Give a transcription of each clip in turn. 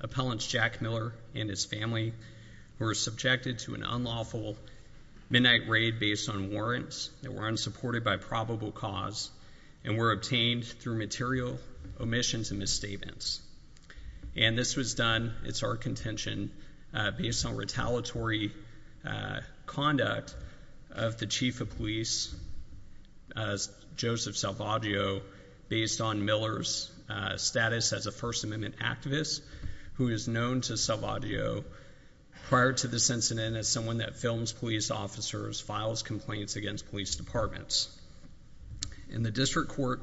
Appellants Jack Miller and his family were subjected to an unlawful midnight raid based on warrants that were unsupported by probable cause and were obtained through material omissions and misstatements. And this was done, it's our contention, based on retaliatory conduct of the chief of police, Joseph Salvaggio, based on Miller's status as a First Amendment activist, who is known to Salvaggio prior to this incident as someone that films police officers, files complaints against police departments. And the district court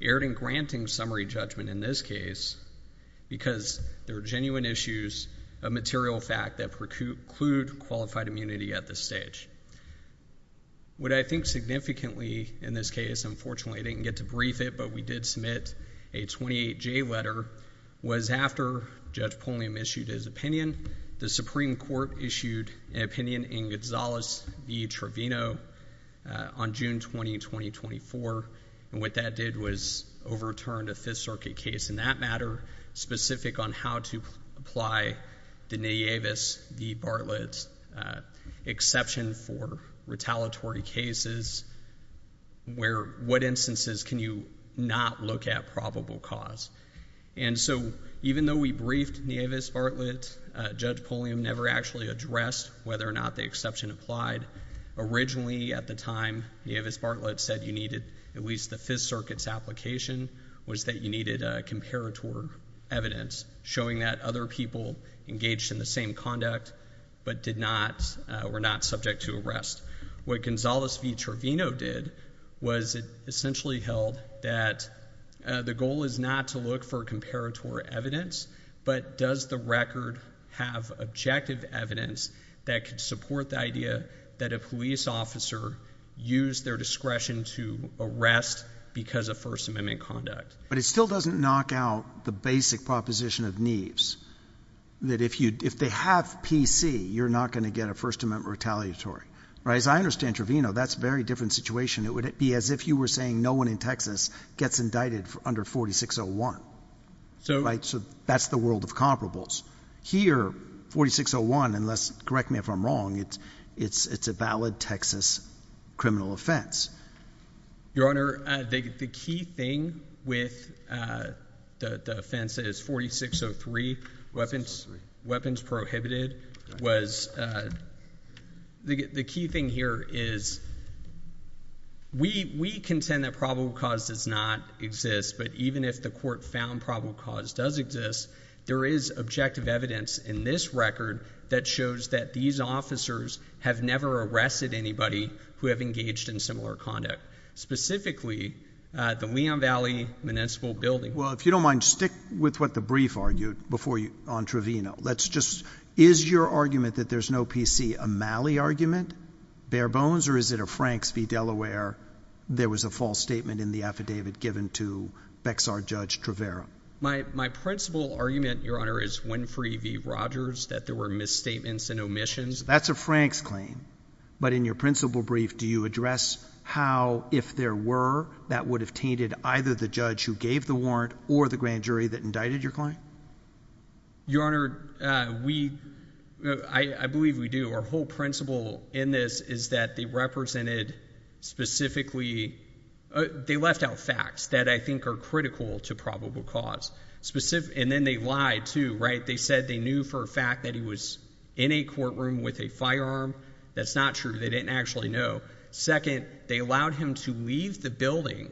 erred in granting summary judgment in this case because there are genuine issues of material fact that preclude qualified immunity at this stage. What I think significantly in this case, unfortunately I didn't get to brief it, but we did submit a 28-J letter was after Judge Pulliam issued his opinion. The Supreme Court issued an opinion in Gonzales v. Trevino on June 20, 2024, and what that did was overturned a Fifth Circuit case in that matter, specific on how to apply the Nieves v. Bartlett exception for retaliatory cases, where what instances can you not look at probable cause. And so even though we briefed Nieves Bartlett, Judge Pulliam never actually addressed whether or not the exception applied. Originally at the time, Nieves Bartlett said you needed at least the Fifth Circuit's application was that you needed a comparator evidence showing that other people engaged in the same conduct but did not, were not subject to arrest. What Gonzales v. Trevino did was it essentially held that the goal is not to look for comparator evidence, but does the record have objective evidence that could support the idea that a police officer used their discretion to arrest because of First Amendment conduct? But it still doesn't knock out the basic proposition of Nieves, that if they have PC, you're not going to get a First Amendment retaliatory. As I understand Trevino, that's a very different situation. It would be as if you were saying no one in Texas gets indicted under 4601, right? So that's the world of comparables. Here, 4601, and correct me if I'm wrong, it's a valid Texas criminal offense. Your Honor, the key thing with the offense that is 4603, weapons prohibited, was the key thing here is we contend that probable cause does not exist, but even if the court found probable cause does exist, there is objective evidence in this record that shows that these officers have never arrested anybody who have engaged in similar conduct, specifically the Leon Valley Municipal Building. Well, if you don't mind, stick with what the brief argued before you, on Trevino. Let's just, is your argument that there's no PC a Malley argument, bare bones, or is it a Franks v. Delaware, there was a false statement in the affidavit given to Bexar v. Judge Travera? My principle argument, Your Honor, is Winfrey v. Rogers, that there were misstatements and omissions. That's a Franks claim, but in your principle brief, do you address how, if there were, that would have tainted either the judge who gave the warrant or the grand jury that indicted your claim? Your Honor, we, I believe we do. Our whole principle in this is that they represented specifically, they left out facts that I think are critical to probable cause, and then they lied too, right? They said they knew for a fact that he was in a courtroom with a firearm. That's not true. They didn't actually know. Second, they allowed him to leave the building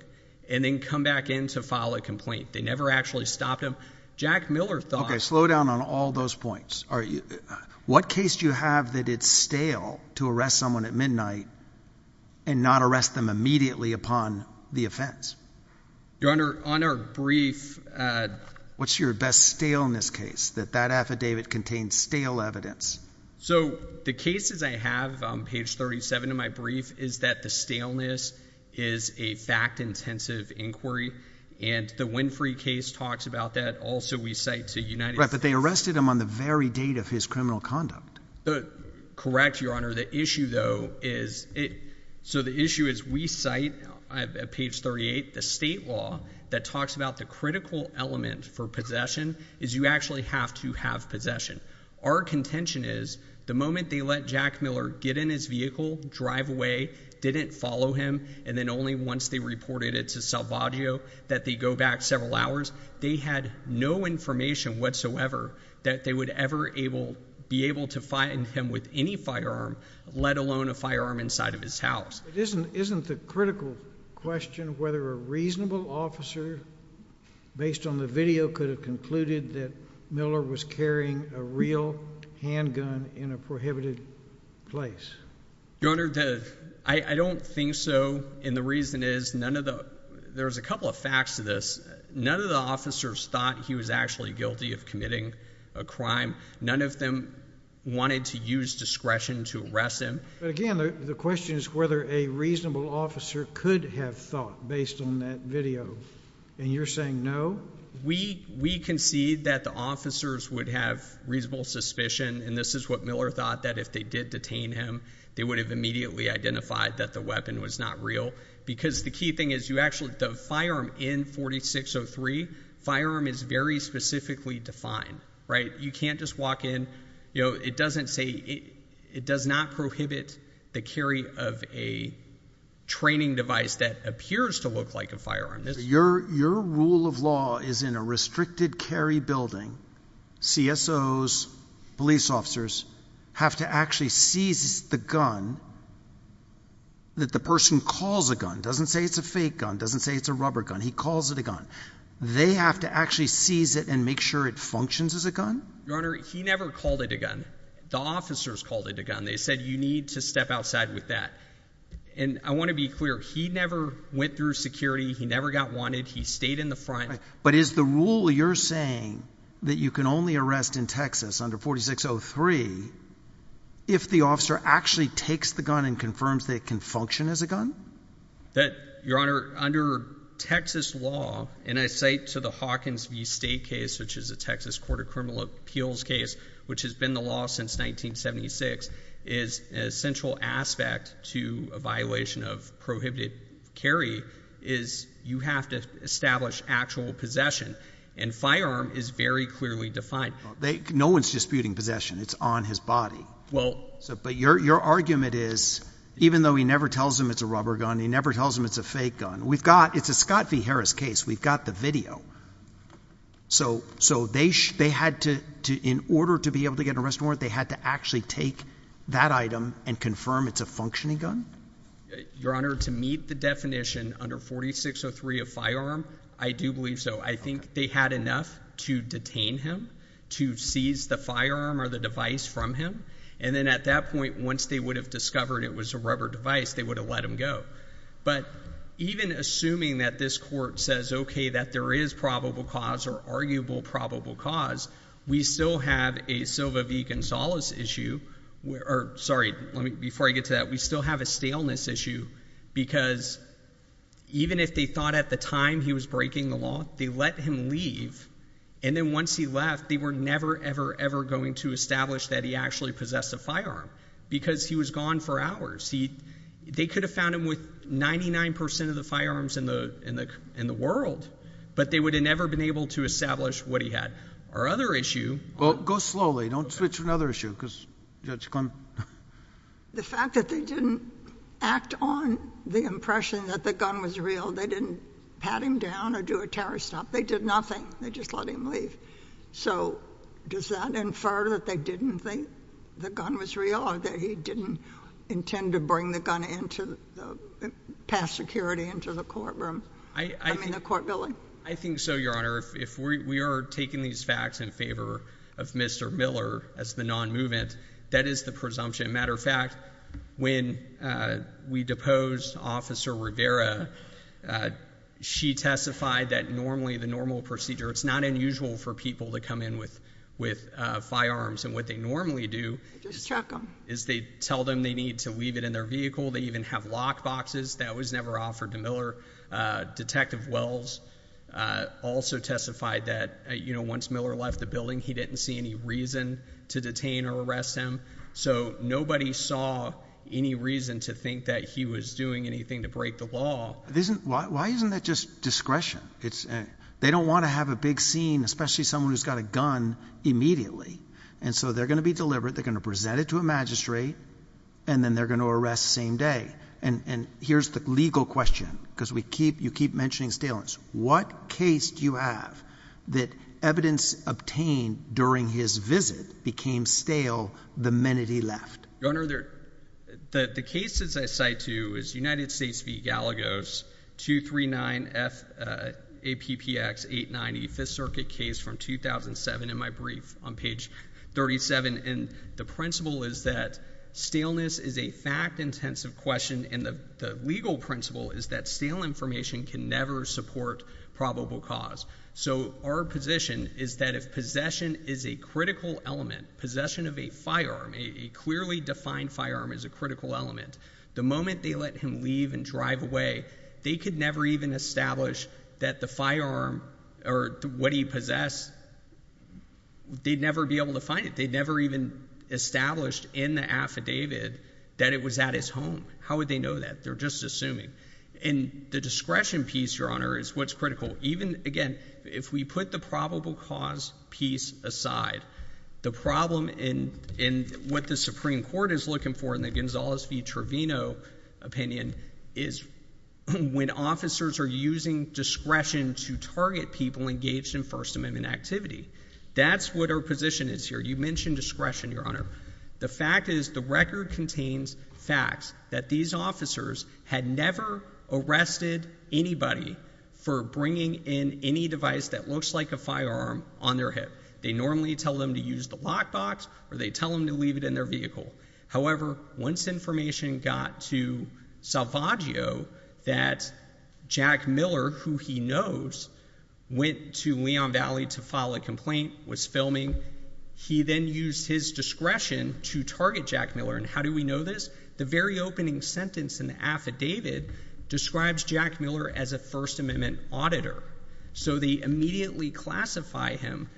and then come back in to file a complaint. They never actually stopped him. Jack Miller thought- Okay, slow down on all those points. What case do you have that it's stale to arrest someone at midnight and not arrest them immediately upon the offense? Your Honor, on our brief- What's your best staleness case, that that affidavit contains stale evidence? So the cases I have, page 37 of my brief, is that the staleness is a fact-intensive inquiry, and the Winfrey case talks about that also. We cite to United States- Right, but they arrested him on the very date of his criminal conduct. Correct, Your Honor. Your Honor, the issue, though, is- so the issue is we cite, at page 38, the state law that talks about the critical element for possession is you actually have to have possession. Our contention is the moment they let Jack Miller get in his vehicle, drive away, didn't follow him, and then only once they reported it to Salvaggio that they go back several hours, they had no information whatsoever that they would ever be able to find him with any firearm, let alone a firearm inside of his house. Isn't the critical question whether a reasonable officer, based on the video, could have concluded that Miller was carrying a real handgun in a prohibited place? Your Honor, the- I don't think so, and the reason is none of the- there's a couple of facts to this. None of the officers thought he was actually guilty of committing a crime. None of them wanted to use discretion to arrest him. But again, the question is whether a reasonable officer could have thought, based on that video, and you're saying no? We concede that the officers would have reasonable suspicion, and this is what Miller thought, that if they did detain him, they would have immediately identified that the weapon was not real, because the key thing is you actually- the firearm in 4603, firearm is very specifically defined, right? You can't just walk in, you know, it doesn't say- it does not prohibit the carry of a training device that appears to look like a firearm. Your rule of law is in a restricted carry building, CSOs, police officers, have to actually seize the gun that the person calls a gun, doesn't say it's a fake gun, doesn't say it's a rubber gun, he calls it a gun. They have to actually seize it and make sure it functions as a gun? Your Honor, he never called it a gun. The officers called it a gun. They said you need to step outside with that. And I want to be clear, he never went through security, he never got wanted, he stayed in the front. But is the rule you're saying that you can only arrest in Texas under 4603 if the officer actually takes the gun and confirms that it can function as a gun? That, Your Honor, under Texas law, and I say to the Hawkins v. State case, which is a Texas Court of Criminal Appeals case, which has been the law since 1976, is an essential aspect to a violation of prohibited carry, is you have to establish actual possession. And firearm is very clearly defined. No one's disputing possession, it's on his body. But your argument is, even though he never tells them it's a rubber gun, he never tells them it's a fake gun, we've got, it's a Scott v. Harris case, we've got the video. So they had to, in order to be able to get an arrest warrant, they had to actually take that item and confirm it's a functioning gun? Your Honor, to meet the definition under 4603 of firearm, I do believe so. I think they had enough to detain him, to seize the firearm or the device from him, and then at that point, once they would have discovered it was a rubber device, they would have let him go. But even assuming that this court says, okay, that there is probable cause or arguable probable cause, we still have a Silva v. Gonzalez issue, or sorry, before I get to that, we still have a staleness issue, because even if they thought at the time he was breaking the law, they let him leave, and then once he left, they were never, ever, ever going to establish that he actually possessed a firearm, because he was gone for hours. They could have found him with 99% of the firearms in the world, but they would have never been able to establish what he had. Our other issue— Well, go slowly, don't switch to another issue, because Judge Clement— The fact that they didn't act on the impression that the gun was real, they didn't pat him down or do a terror stop. They did nothing. They just let him leave. So does that infer that they didn't think the gun was real or that he didn't intend to bring the gun into, pass security into the courtroom, I mean, the court building? I think so, Your Honor. If we are taking these facts in favor of Mr. Miller as the non-movement, that is the presumption. As a matter of fact, when we deposed Officer Rivera, she testified that normally the normal procedure—it's not unusual for people to come in with firearms, and what they normally do is they tell them they need to leave it in their vehicle. They even have lock boxes. That was never offered to Miller. Detective Wells also testified that, you know, once Miller left the building, he didn't see any reason to detain or arrest him. So nobody saw any reason to think that he was doing anything to break the law. Why isn't that just discretion? They don't want to have a big scene, especially someone who's got a gun, immediately. And so they're going to be deliberate. They're going to present it to a magistrate, and then they're going to arrest same day. And here's the legal question, because you keep mentioning staleness. What case do you have that evidence obtained during his visit became stale the minute he left? Your Honor, the cases I cite to is United States v. Galagos, 239 F. APPX 890, Fifth Circuit case from 2007, in my brief on page 37, and the principle is that staleness is a fact-intensive question, and the legal principle is that stale information can never support probable cause. So our position is that if possession is a critical element, possession of a firearm, a clearly defined firearm is a critical element, the moment they let him leave and drive away, they could never even establish that the firearm, or what he possessed, they'd never be able to find it. They'd never even established in the affidavit that it was at his home. How would they know that? They're just assuming. And the discretion piece, Your Honor, is what's critical. Even, again, if we put the probable cause piece aside, the problem in what the Supreme Court is looking for in the Gonzales v. Trevino opinion is when officers are using discretion to target people engaged in First Amendment activity. That's what our position is here. You mentioned discretion, Your Honor. The fact is, the record contains facts that these officers had never arrested anybody for bringing in any device that looks like a firearm on their hip. They normally tell them to use the lockbox, or they tell them to leave it in their vehicle. However, once information got to Salvaggio that Jack Miller, who he knows, went to Leon Jack Miller, and how do we know this? The very opening sentence in the affidavit describes Jack Miller as a First Amendment auditor. So, they immediately classify him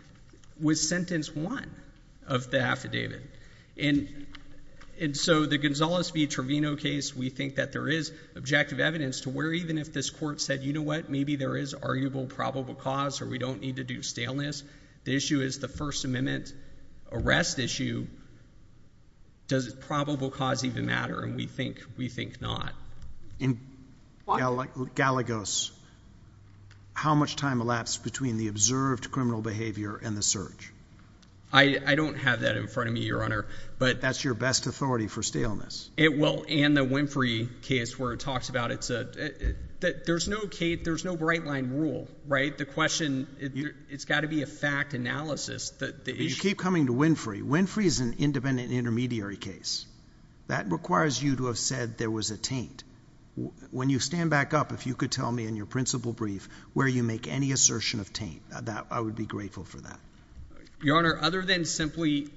with sentence one of the affidavit. And so, the Gonzales v. Trevino case, we think that there is objective evidence to where even if this court said, you know what, maybe there is arguable probable cause, or we don't need to do staleness. The issue is the First Amendment arrest issue. Does probable cause even matter? And we think not. In Gallegos, how much time elapsed between the observed criminal behavior and the search? I don't have that in front of me, Your Honor. That's your best authority for staleness. It will. And the Winfrey case where it talks about, there's no bright line rule, right? I think the question, it's got to be a fact analysis, that the issue— You keep coming to Winfrey. Winfrey is an independent intermediary case. That requires you to have said there was a taint. When you stand back up, if you could tell me in your principal brief where you make any assertion of taint, I would be grateful for that. Your Honor, other than simply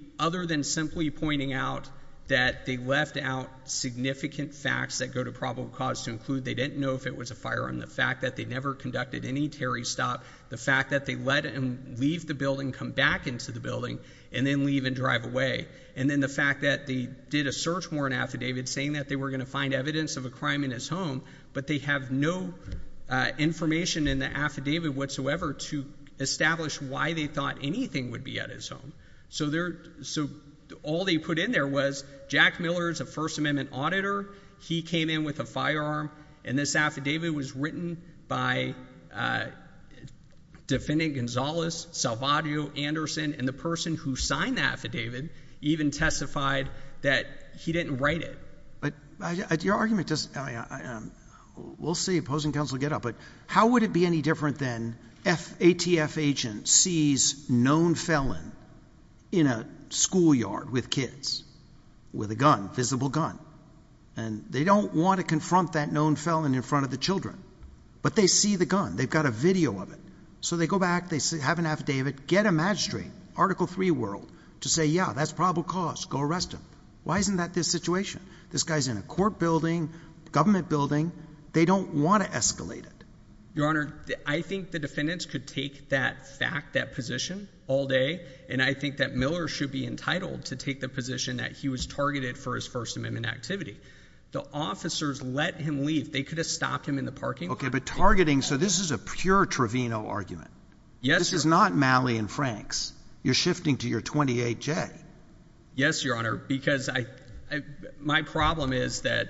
pointing out that they left out significant facts that go to probable cause to include they didn't know if it was a firearm, the fact that they never conducted any Terry stop, the fact that they let him leave the building, come back into the building, and then leave and drive away. And then the fact that they did a search warrant affidavit saying that they were going to find evidence of a crime in his home, but they have no information in the affidavit whatsoever to establish why they thought anything would be at his home. So all they put in there was Jack Miller is a First Amendment auditor. He came in with a firearm, and this affidavit was written by Defendant Gonzalez, Salvadio, Anderson, and the person who signed the affidavit even testified that he didn't write it. Your argument—we'll see opposing counsel get up, but how would it be any different than an ATF agent sees a known felon in a schoolyard with kids with a gun, a visible gun, and they don't want to confront that known felon in front of the children. But they see the gun. They've got a video of it. So they go back. They have an affidavit. Get a magistrate, Article III world, to say, yeah, that's probable cause. Go arrest him. Why isn't that the situation? This guy's in a court building, a government building. They don't want to escalate it. Your Honor, I think the defendants could take that fact, that position, all day, and I think that Miller should be entitled to take the position that he was targeted for his First Amendment activity. The officers let him leave. They could have stopped him in the parking lot. Okay, but targeting—so this is a pure Trevino argument. Yes, Your Honor. This is not Malley and Franks. You're shifting to your 28J. Yes, Your Honor, because I—my problem is that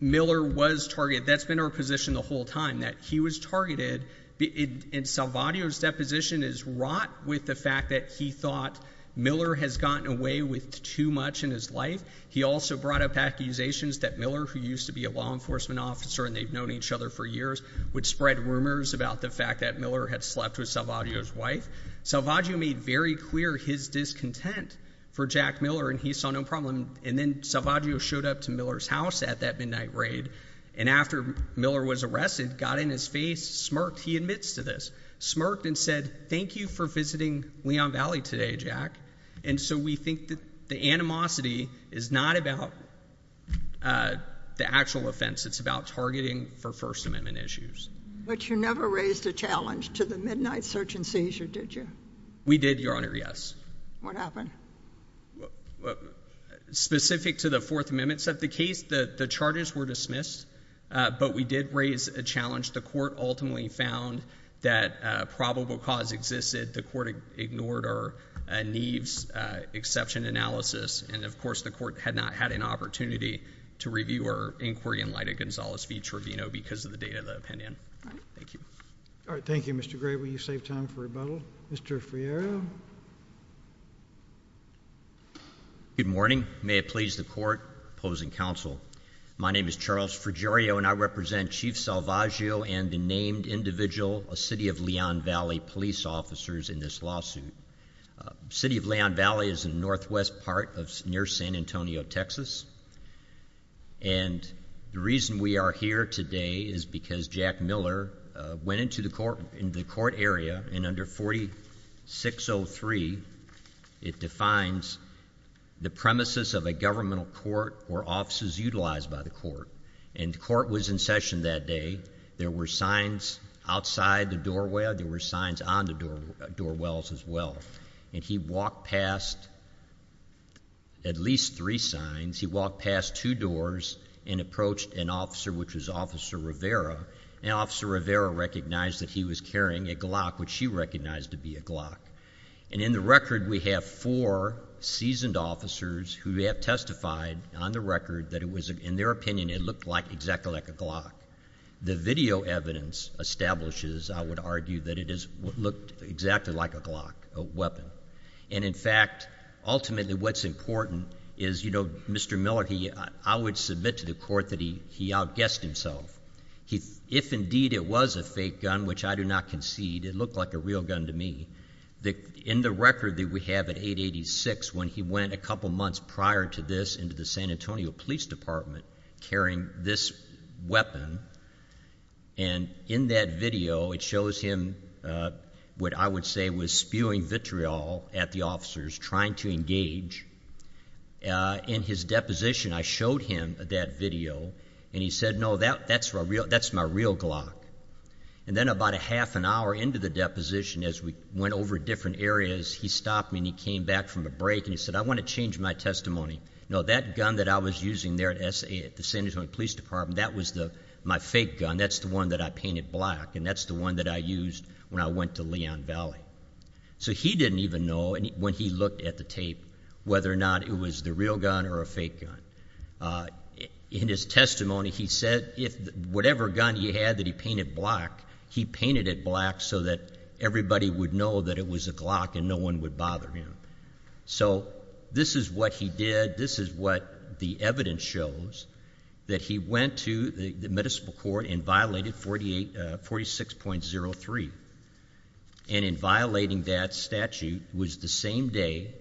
Miller was targeted. That's been our position the whole time, that he was targeted, and Salvaggio's deposition is wrought with the fact that he thought Miller has gotten away with too much in his life. He also brought up accusations that Miller, who used to be a law enforcement officer and they've known each other for years, would spread rumors about the fact that Miller had slept with Salvaggio's wife. Salvaggio made very clear his discontent for Jack Miller, and he saw no problem. And then Salvaggio showed up to Miller's house at that midnight raid, and after Miller was arrested, got in his face, smirked—he admits to this—smirked and said, thank you for visiting Leon Valley today, Jack. And so we think that the animosity is not about the actual offense. It's about targeting for First Amendment issues. But you never raised a challenge to the midnight search and seizure, did you? We did, Your Honor, yes. What happened? Specific to the Fourth Amendment side of the case, the charges were dismissed, but we did raise a challenge. The court ultimately found that probable cause existed. The court ignored our Neves exception analysis, and of course the court had not had an opportunity to review our inquiry in light of Gonzales v. Trevino because of the date of the opinion. Thank you. All right. Thank you, Mr. Gray. Will you save time for rebuttal? Mr. Fierro? Good morning. May it please the court, opposing counsel. My name is Charles Frigerio, and I represent Chief Salvaggio and the named individual, a city of Leon Valley, police officers in this lawsuit. City of Leon Valley is in the northwest part near San Antonio, Texas. And the reason we are here today is because Jack Miller went into the court area in under 4603. It defines the premises of a governmental court or offices utilized by the court. And the court was in session that day. There were signs outside the doorway. There were signs on the door wells as well. And he walked past at least three signs. He walked past two doors and approached an officer, which was Officer Rivera. And Officer Rivera recognized that he was carrying a Glock, which she recognized to be a Glock. And in the record, we have four seasoned officers who have testified on the record that it was, in their opinion, it looked exactly like a Glock. The video evidence establishes, I would argue, that it looked exactly like a Glock, a weapon. And in fact, ultimately, what's important is, you know, Mr. Miller, I would submit to the court that he outguessed himself. If indeed it was a fake gun, which I do not concede, it looked like a real gun to me. In the record that we have at 886, when he went a couple months prior to this into the San Antonio Police Department carrying this weapon, and in that video, it shows him what I would say was spewing vitriol at the officers trying to engage. In his deposition, I showed him that video, and he said, no, that's my real Glock. And then about a half an hour into the deposition, as we went over different areas, he stopped me and he came back from a break and he said, I want to change my testimony. No, that gun that I was using there at the San Antonio Police Department, that was my fake gun. That's the one that I painted black, and that's the one that I used when I went to Leon Valley. So he didn't even know when he looked at the tape whether or not it was the real gun or a fake gun. In his testimony, he said whatever gun he had that he painted black, he painted it black so that everybody would know that it was a Glock and no one would bother him. So this is what he did. This is what the evidence shows, that he went to the municipal court and violated 46.03. And in violating that statute, it was the same day,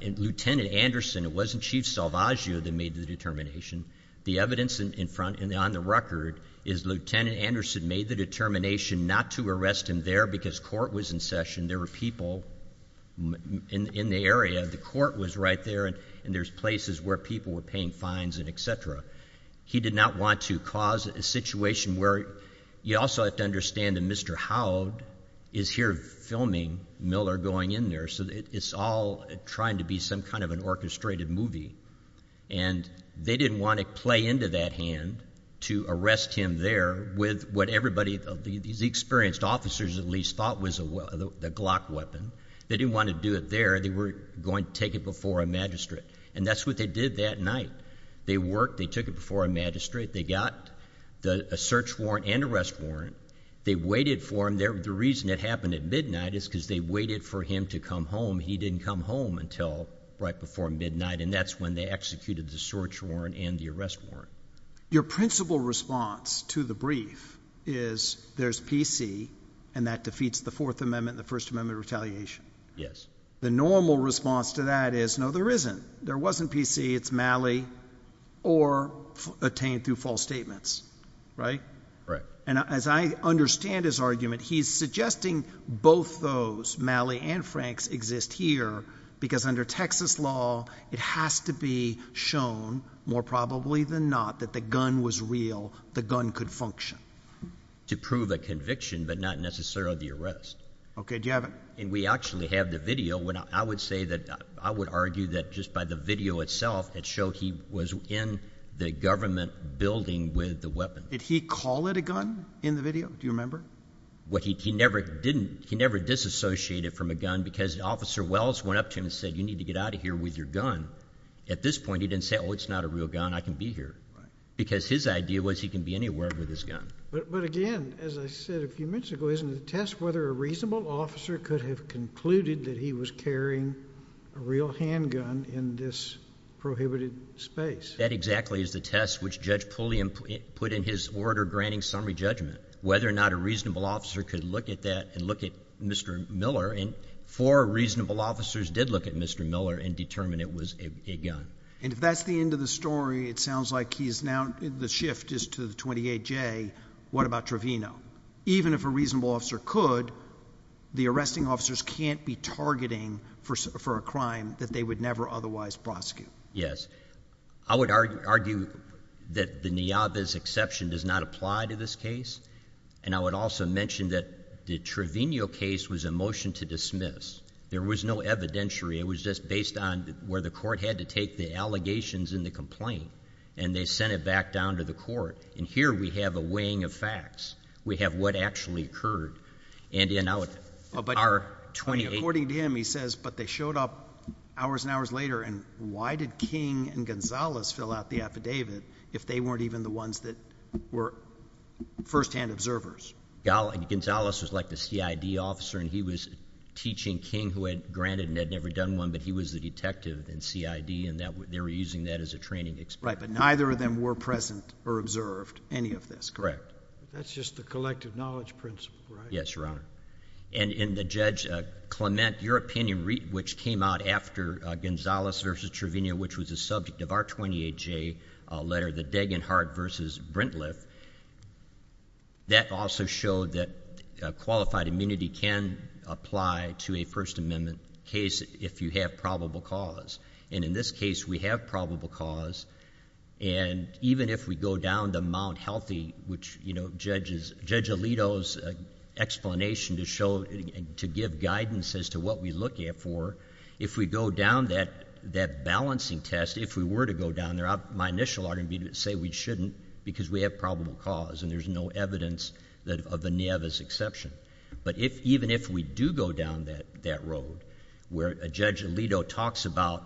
Lieutenant Anderson, it wasn't Chief Salvaggio that made the determination. The evidence in front and on the record is Lieutenant Anderson made the determination not to arrest him there because court was in session, there were people in the area, the court was right there, and there's places where people were paying fines and et cetera. He did not want to cause a situation where, you also have to understand that Mr. Howe is here filming Miller going in there, so it's all trying to be some kind of an orchestrated movie. And they didn't want to play into that hand to arrest him there with what everybody, these experienced officers at least, thought was a Glock weapon. They didn't want to do it there, they were going to take it before a magistrate. And that's what they did that night. They worked, they took it before a magistrate, they got a search warrant and arrest warrant, they waited for him there. The reason it happened at midnight is because they waited for him to come home. He didn't come home until right before midnight, and that's when they executed the search warrant and the arrest warrant. Your principal response to the brief is, there's PC and that defeats the Fourth Amendment and the First Amendment retaliation. Yes. The normal response to that is, no there isn't. There wasn't PC, it's Malley, or attained through false statements. Right? Right. And as I understand his argument, he's suggesting both those, Malley and Franks, exist here because under Texas law, it has to be shown, more probably than not, that the gun was real, the gun could function. To prove a conviction, but not necessarily the arrest. Okay, do you have it? We actually have the video, I would argue that just by the video itself, it showed he was in the government building with the weapon. Did he call it a gun in the video, do you remember? He never disassociated from a gun because Officer Wells went up to him and said, you need to get out of here with your gun. At this point, he didn't say, oh it's not a real gun, I can be here. Because his idea was, he can be anywhere with his gun. But again, as I said a few minutes ago, isn't the test whether a reasonable officer could have concluded that he was carrying a real handgun in this prohibited space? That exactly is the test which Judge Pulliam put in his order granting summary judgment. Whether or not a reasonable officer could look at that and look at Mr. Miller, and four reasonable officers did look at Mr. Miller and determine it was a gun. And if that's the end of the story, it sounds like he's now, the shift is to the 28J, what about Trevino? Even if a reasonable officer could, the arresting officers can't be targeting for a crime that they would never otherwise prosecute. Yes. I would argue that the Niava's exception does not apply to this case, and I would also mention that the Trevino case was a motion to dismiss. There was no evidentiary, it was just based on where the court had to take the allegations in the complaint, and they sent it back down to the court. And here we have a weighing of facts. We have what actually occurred. And in our 28... According to him, he says, but they showed up hours and hours later, and why did King and Gonzales fill out the affidavit if they weren't even the ones that were first-hand observers? Gonzales was like the CID officer, and he was teaching King, who had granted and had never done one, but he was the detective in CID, and they were using that as a training experience. Right, but neither of them were present or observed, any of this. Correct. That's just the collective knowledge principle, right? Yes, Your Honor. And the judge, Clement, your opinion, which came out after Gonzales versus Trevino, which was the subject of our 28J letter, the Degenhardt versus Brentleth, that also showed that qualified immunity can apply to a First Amendment case if you have probable cause. And in this case, we have probable cause, and even if we go down the Mount Healthy, which Judge Alito's explanation to give guidance as to what we look at for, if we go down that balancing test, if we were to go down there, my initial argument would be to say we shouldn't because we have probable cause, and there's no evidence of the Nevis exception. But even if we do go down that road, where Judge Alito talks about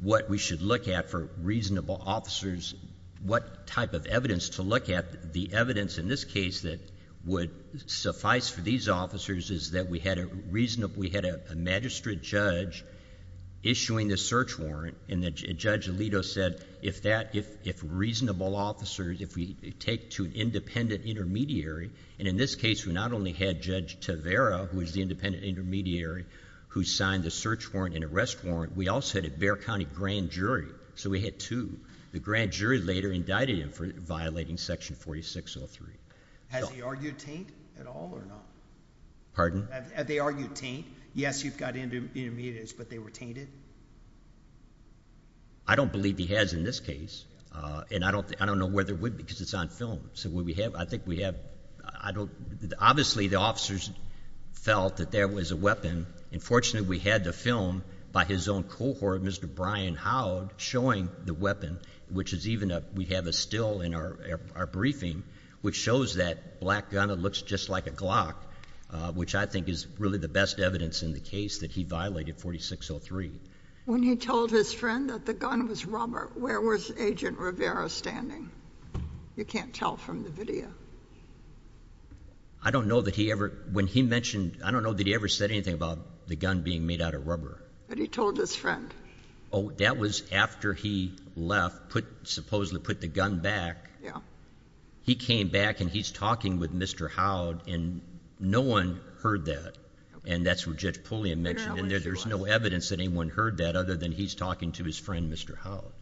what we should look at for reasonable officers, what type of evidence to look at, the evidence in this case that would suffice for these officers is that we had a magistrate judge issuing the search warrant, and Judge Alito said if reasonable officers, if we take to an independent intermediary, and in this case, we not only had Judge Tavera, who was the independent intermediary who signed the search warrant and arrest warrant, we also had a Bexar County grand jury, so we had two. The grand jury later indicted him for violating Section 4603. Has he argued taint at all or not? Have they argued taint? Yes, you've got intermediaries, but they were tainted? I don't believe he has in this case, and I don't know whether it would because it's on film. So would we have, I think we have, I don't, obviously the officers felt that there was a weapon, and fortunately we had the film by his own cohort, Mr. Brian Howd, showing the weapon, which is even, we have a still in our briefing, which shows that black gun looks just like a Glock, which I think is really the best evidence in the case that he violated 4603. When he told his friend that the gun was rubber, where was Agent Rivera standing? You can't tell from the video. I don't know that he ever, when he mentioned, I don't know that he ever said anything about the gun being made out of rubber. But he told his friend. Oh, that was after he left, supposedly put the gun back. He came back and he's talking with Mr. Howd, and no one heard that. And that's what Judge Pulliam mentioned, and there's no evidence that anyone heard that other than he's talking to his friend, Mr. Howd.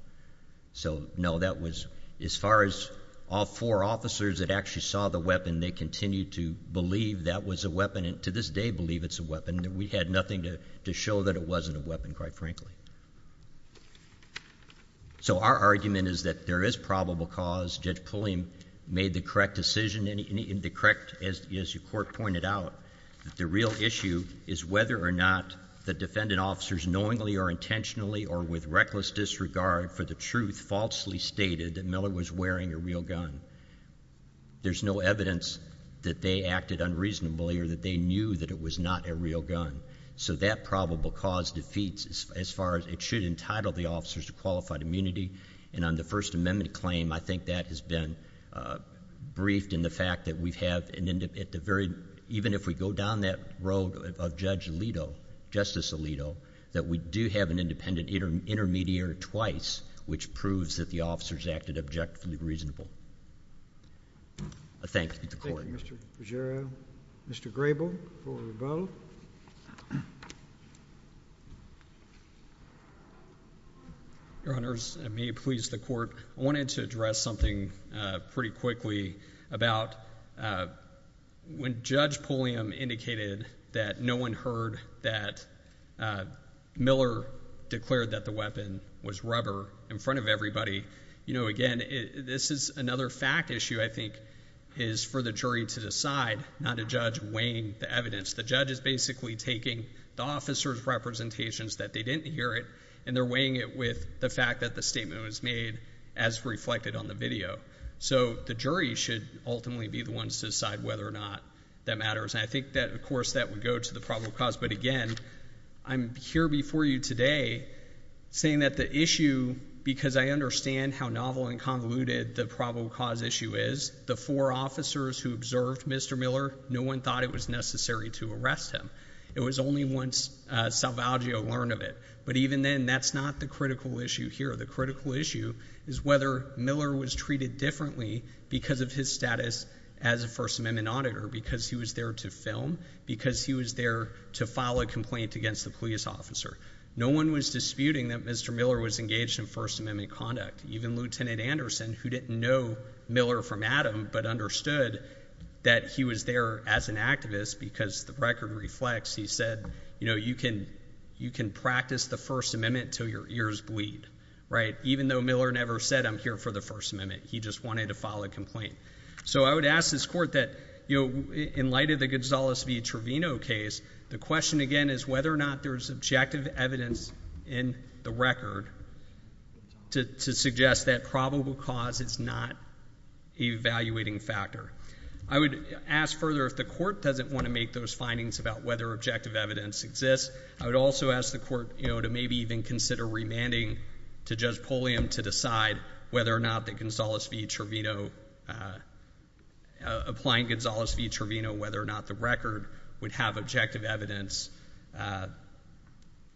So no, that was, as far as all four officers that actually saw the weapon, they continued to believe that was a weapon, and to this day believe it's a weapon. We had nothing to show that it wasn't a weapon, quite frankly. So our argument is that there is probable cause. Judge Pulliam made the correct decision, and the correct, as your court pointed out, that the real issue is whether or not the defendant officers knowingly or intentionally or with reckless disregard for the truth falsely stated that Miller was wearing a real gun. There's no evidence that they acted unreasonably or that they knew that it was not a real gun. So that probable cause defeats as far as it should entitle the officers to qualified immunity. And on the First Amendment claim, I think that has been briefed in the fact that we've have an, at the very, even if we go down that road of Judge Alito, Justice Alito, that we do have an independent intermediary twice, which proves that the officers acted objectively reasonable. I thank you, Mr. Court. Thank you, Mr. Peggioro. Mr. Grable for rebuttal. Your Honors, and may it please the Court, I wanted to address something pretty quickly about when Judge Pulliam indicated that no one heard that Miller declared that the weapon was rubber in front of everybody. You know, again, this is another fact issue, I think, is for the jury to decide, not a judge weighing the evidence. The judge is basically taking the officers' representations that they didn't hear it, and they're weighing it with the fact that the statement was made as reflected on the video. So the jury should ultimately be the ones to decide whether or not that matters. And I think that, of course, that would go to the probable cause, but again, I'm here before you today saying that the issue, because I understand how novel and convoluted the probable cause issue is, the four officers who observed Mr. Miller, no one thought it was necessary to arrest him. It was only once Salvaggio learned of it. But even then, that's not the critical issue here. The critical issue is whether Miller was treated differently because of his status as a First Amendment auditor, because he was there to film, because he was there to file a complaint against the police officer. No one was disputing that Mr. Miller was engaged in First Amendment conduct. Even Lieutenant Anderson, who didn't know Miller from Adam, but understood that he was there as an activist because the record reflects, he said, you know, you can practice the First Amendment until your ears bleed, right? Even though Miller never said, I'm here for the First Amendment. He just wanted to file a complaint. So I would ask this Court that, you know, in light of the Gonzales v. Trevino case, the question, again, is whether or not there's objective evidence in the record to suggest that probable cause is not a valuating factor. I would ask further, if the Court doesn't want to make those findings about whether objective evidence exists, I would also ask the Court, you know, to maybe even consider remanding to Judge Pulliam to decide whether or not the Gonzales v. Trevino, applying Gonzales v. Trevino, whether or not the record would have objective evidence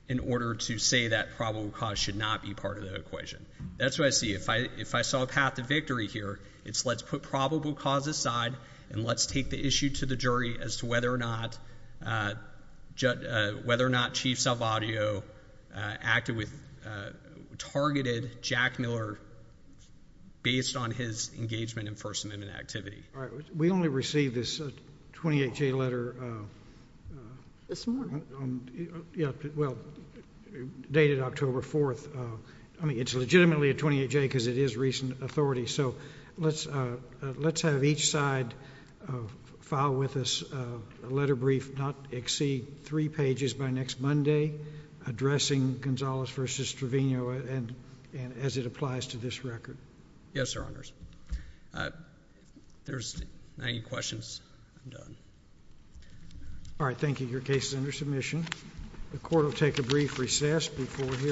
in order to say that probable cause should not be part of the equation. That's what I see. If I saw a path to victory here, it's let's put probable cause aside and let's take the issue to the jury as to whether or not Chief Salvadio acted with, targeted Jack Miller based on his engagement in First Amendment activity. All right. We only received this 28-J letter this morning, dated October 4th. I mean, it's legitimately a 28-J because it is recent authority. So let's have each side file with us a letter brief not exceed three pages by next Monday addressing Gonzales v. Trevino as it applies to this record. Yes, Your Honors. If there's any questions, I'm done. All right. Thank you. Your case is under submission. The Court will take a brief recess before we hear from you.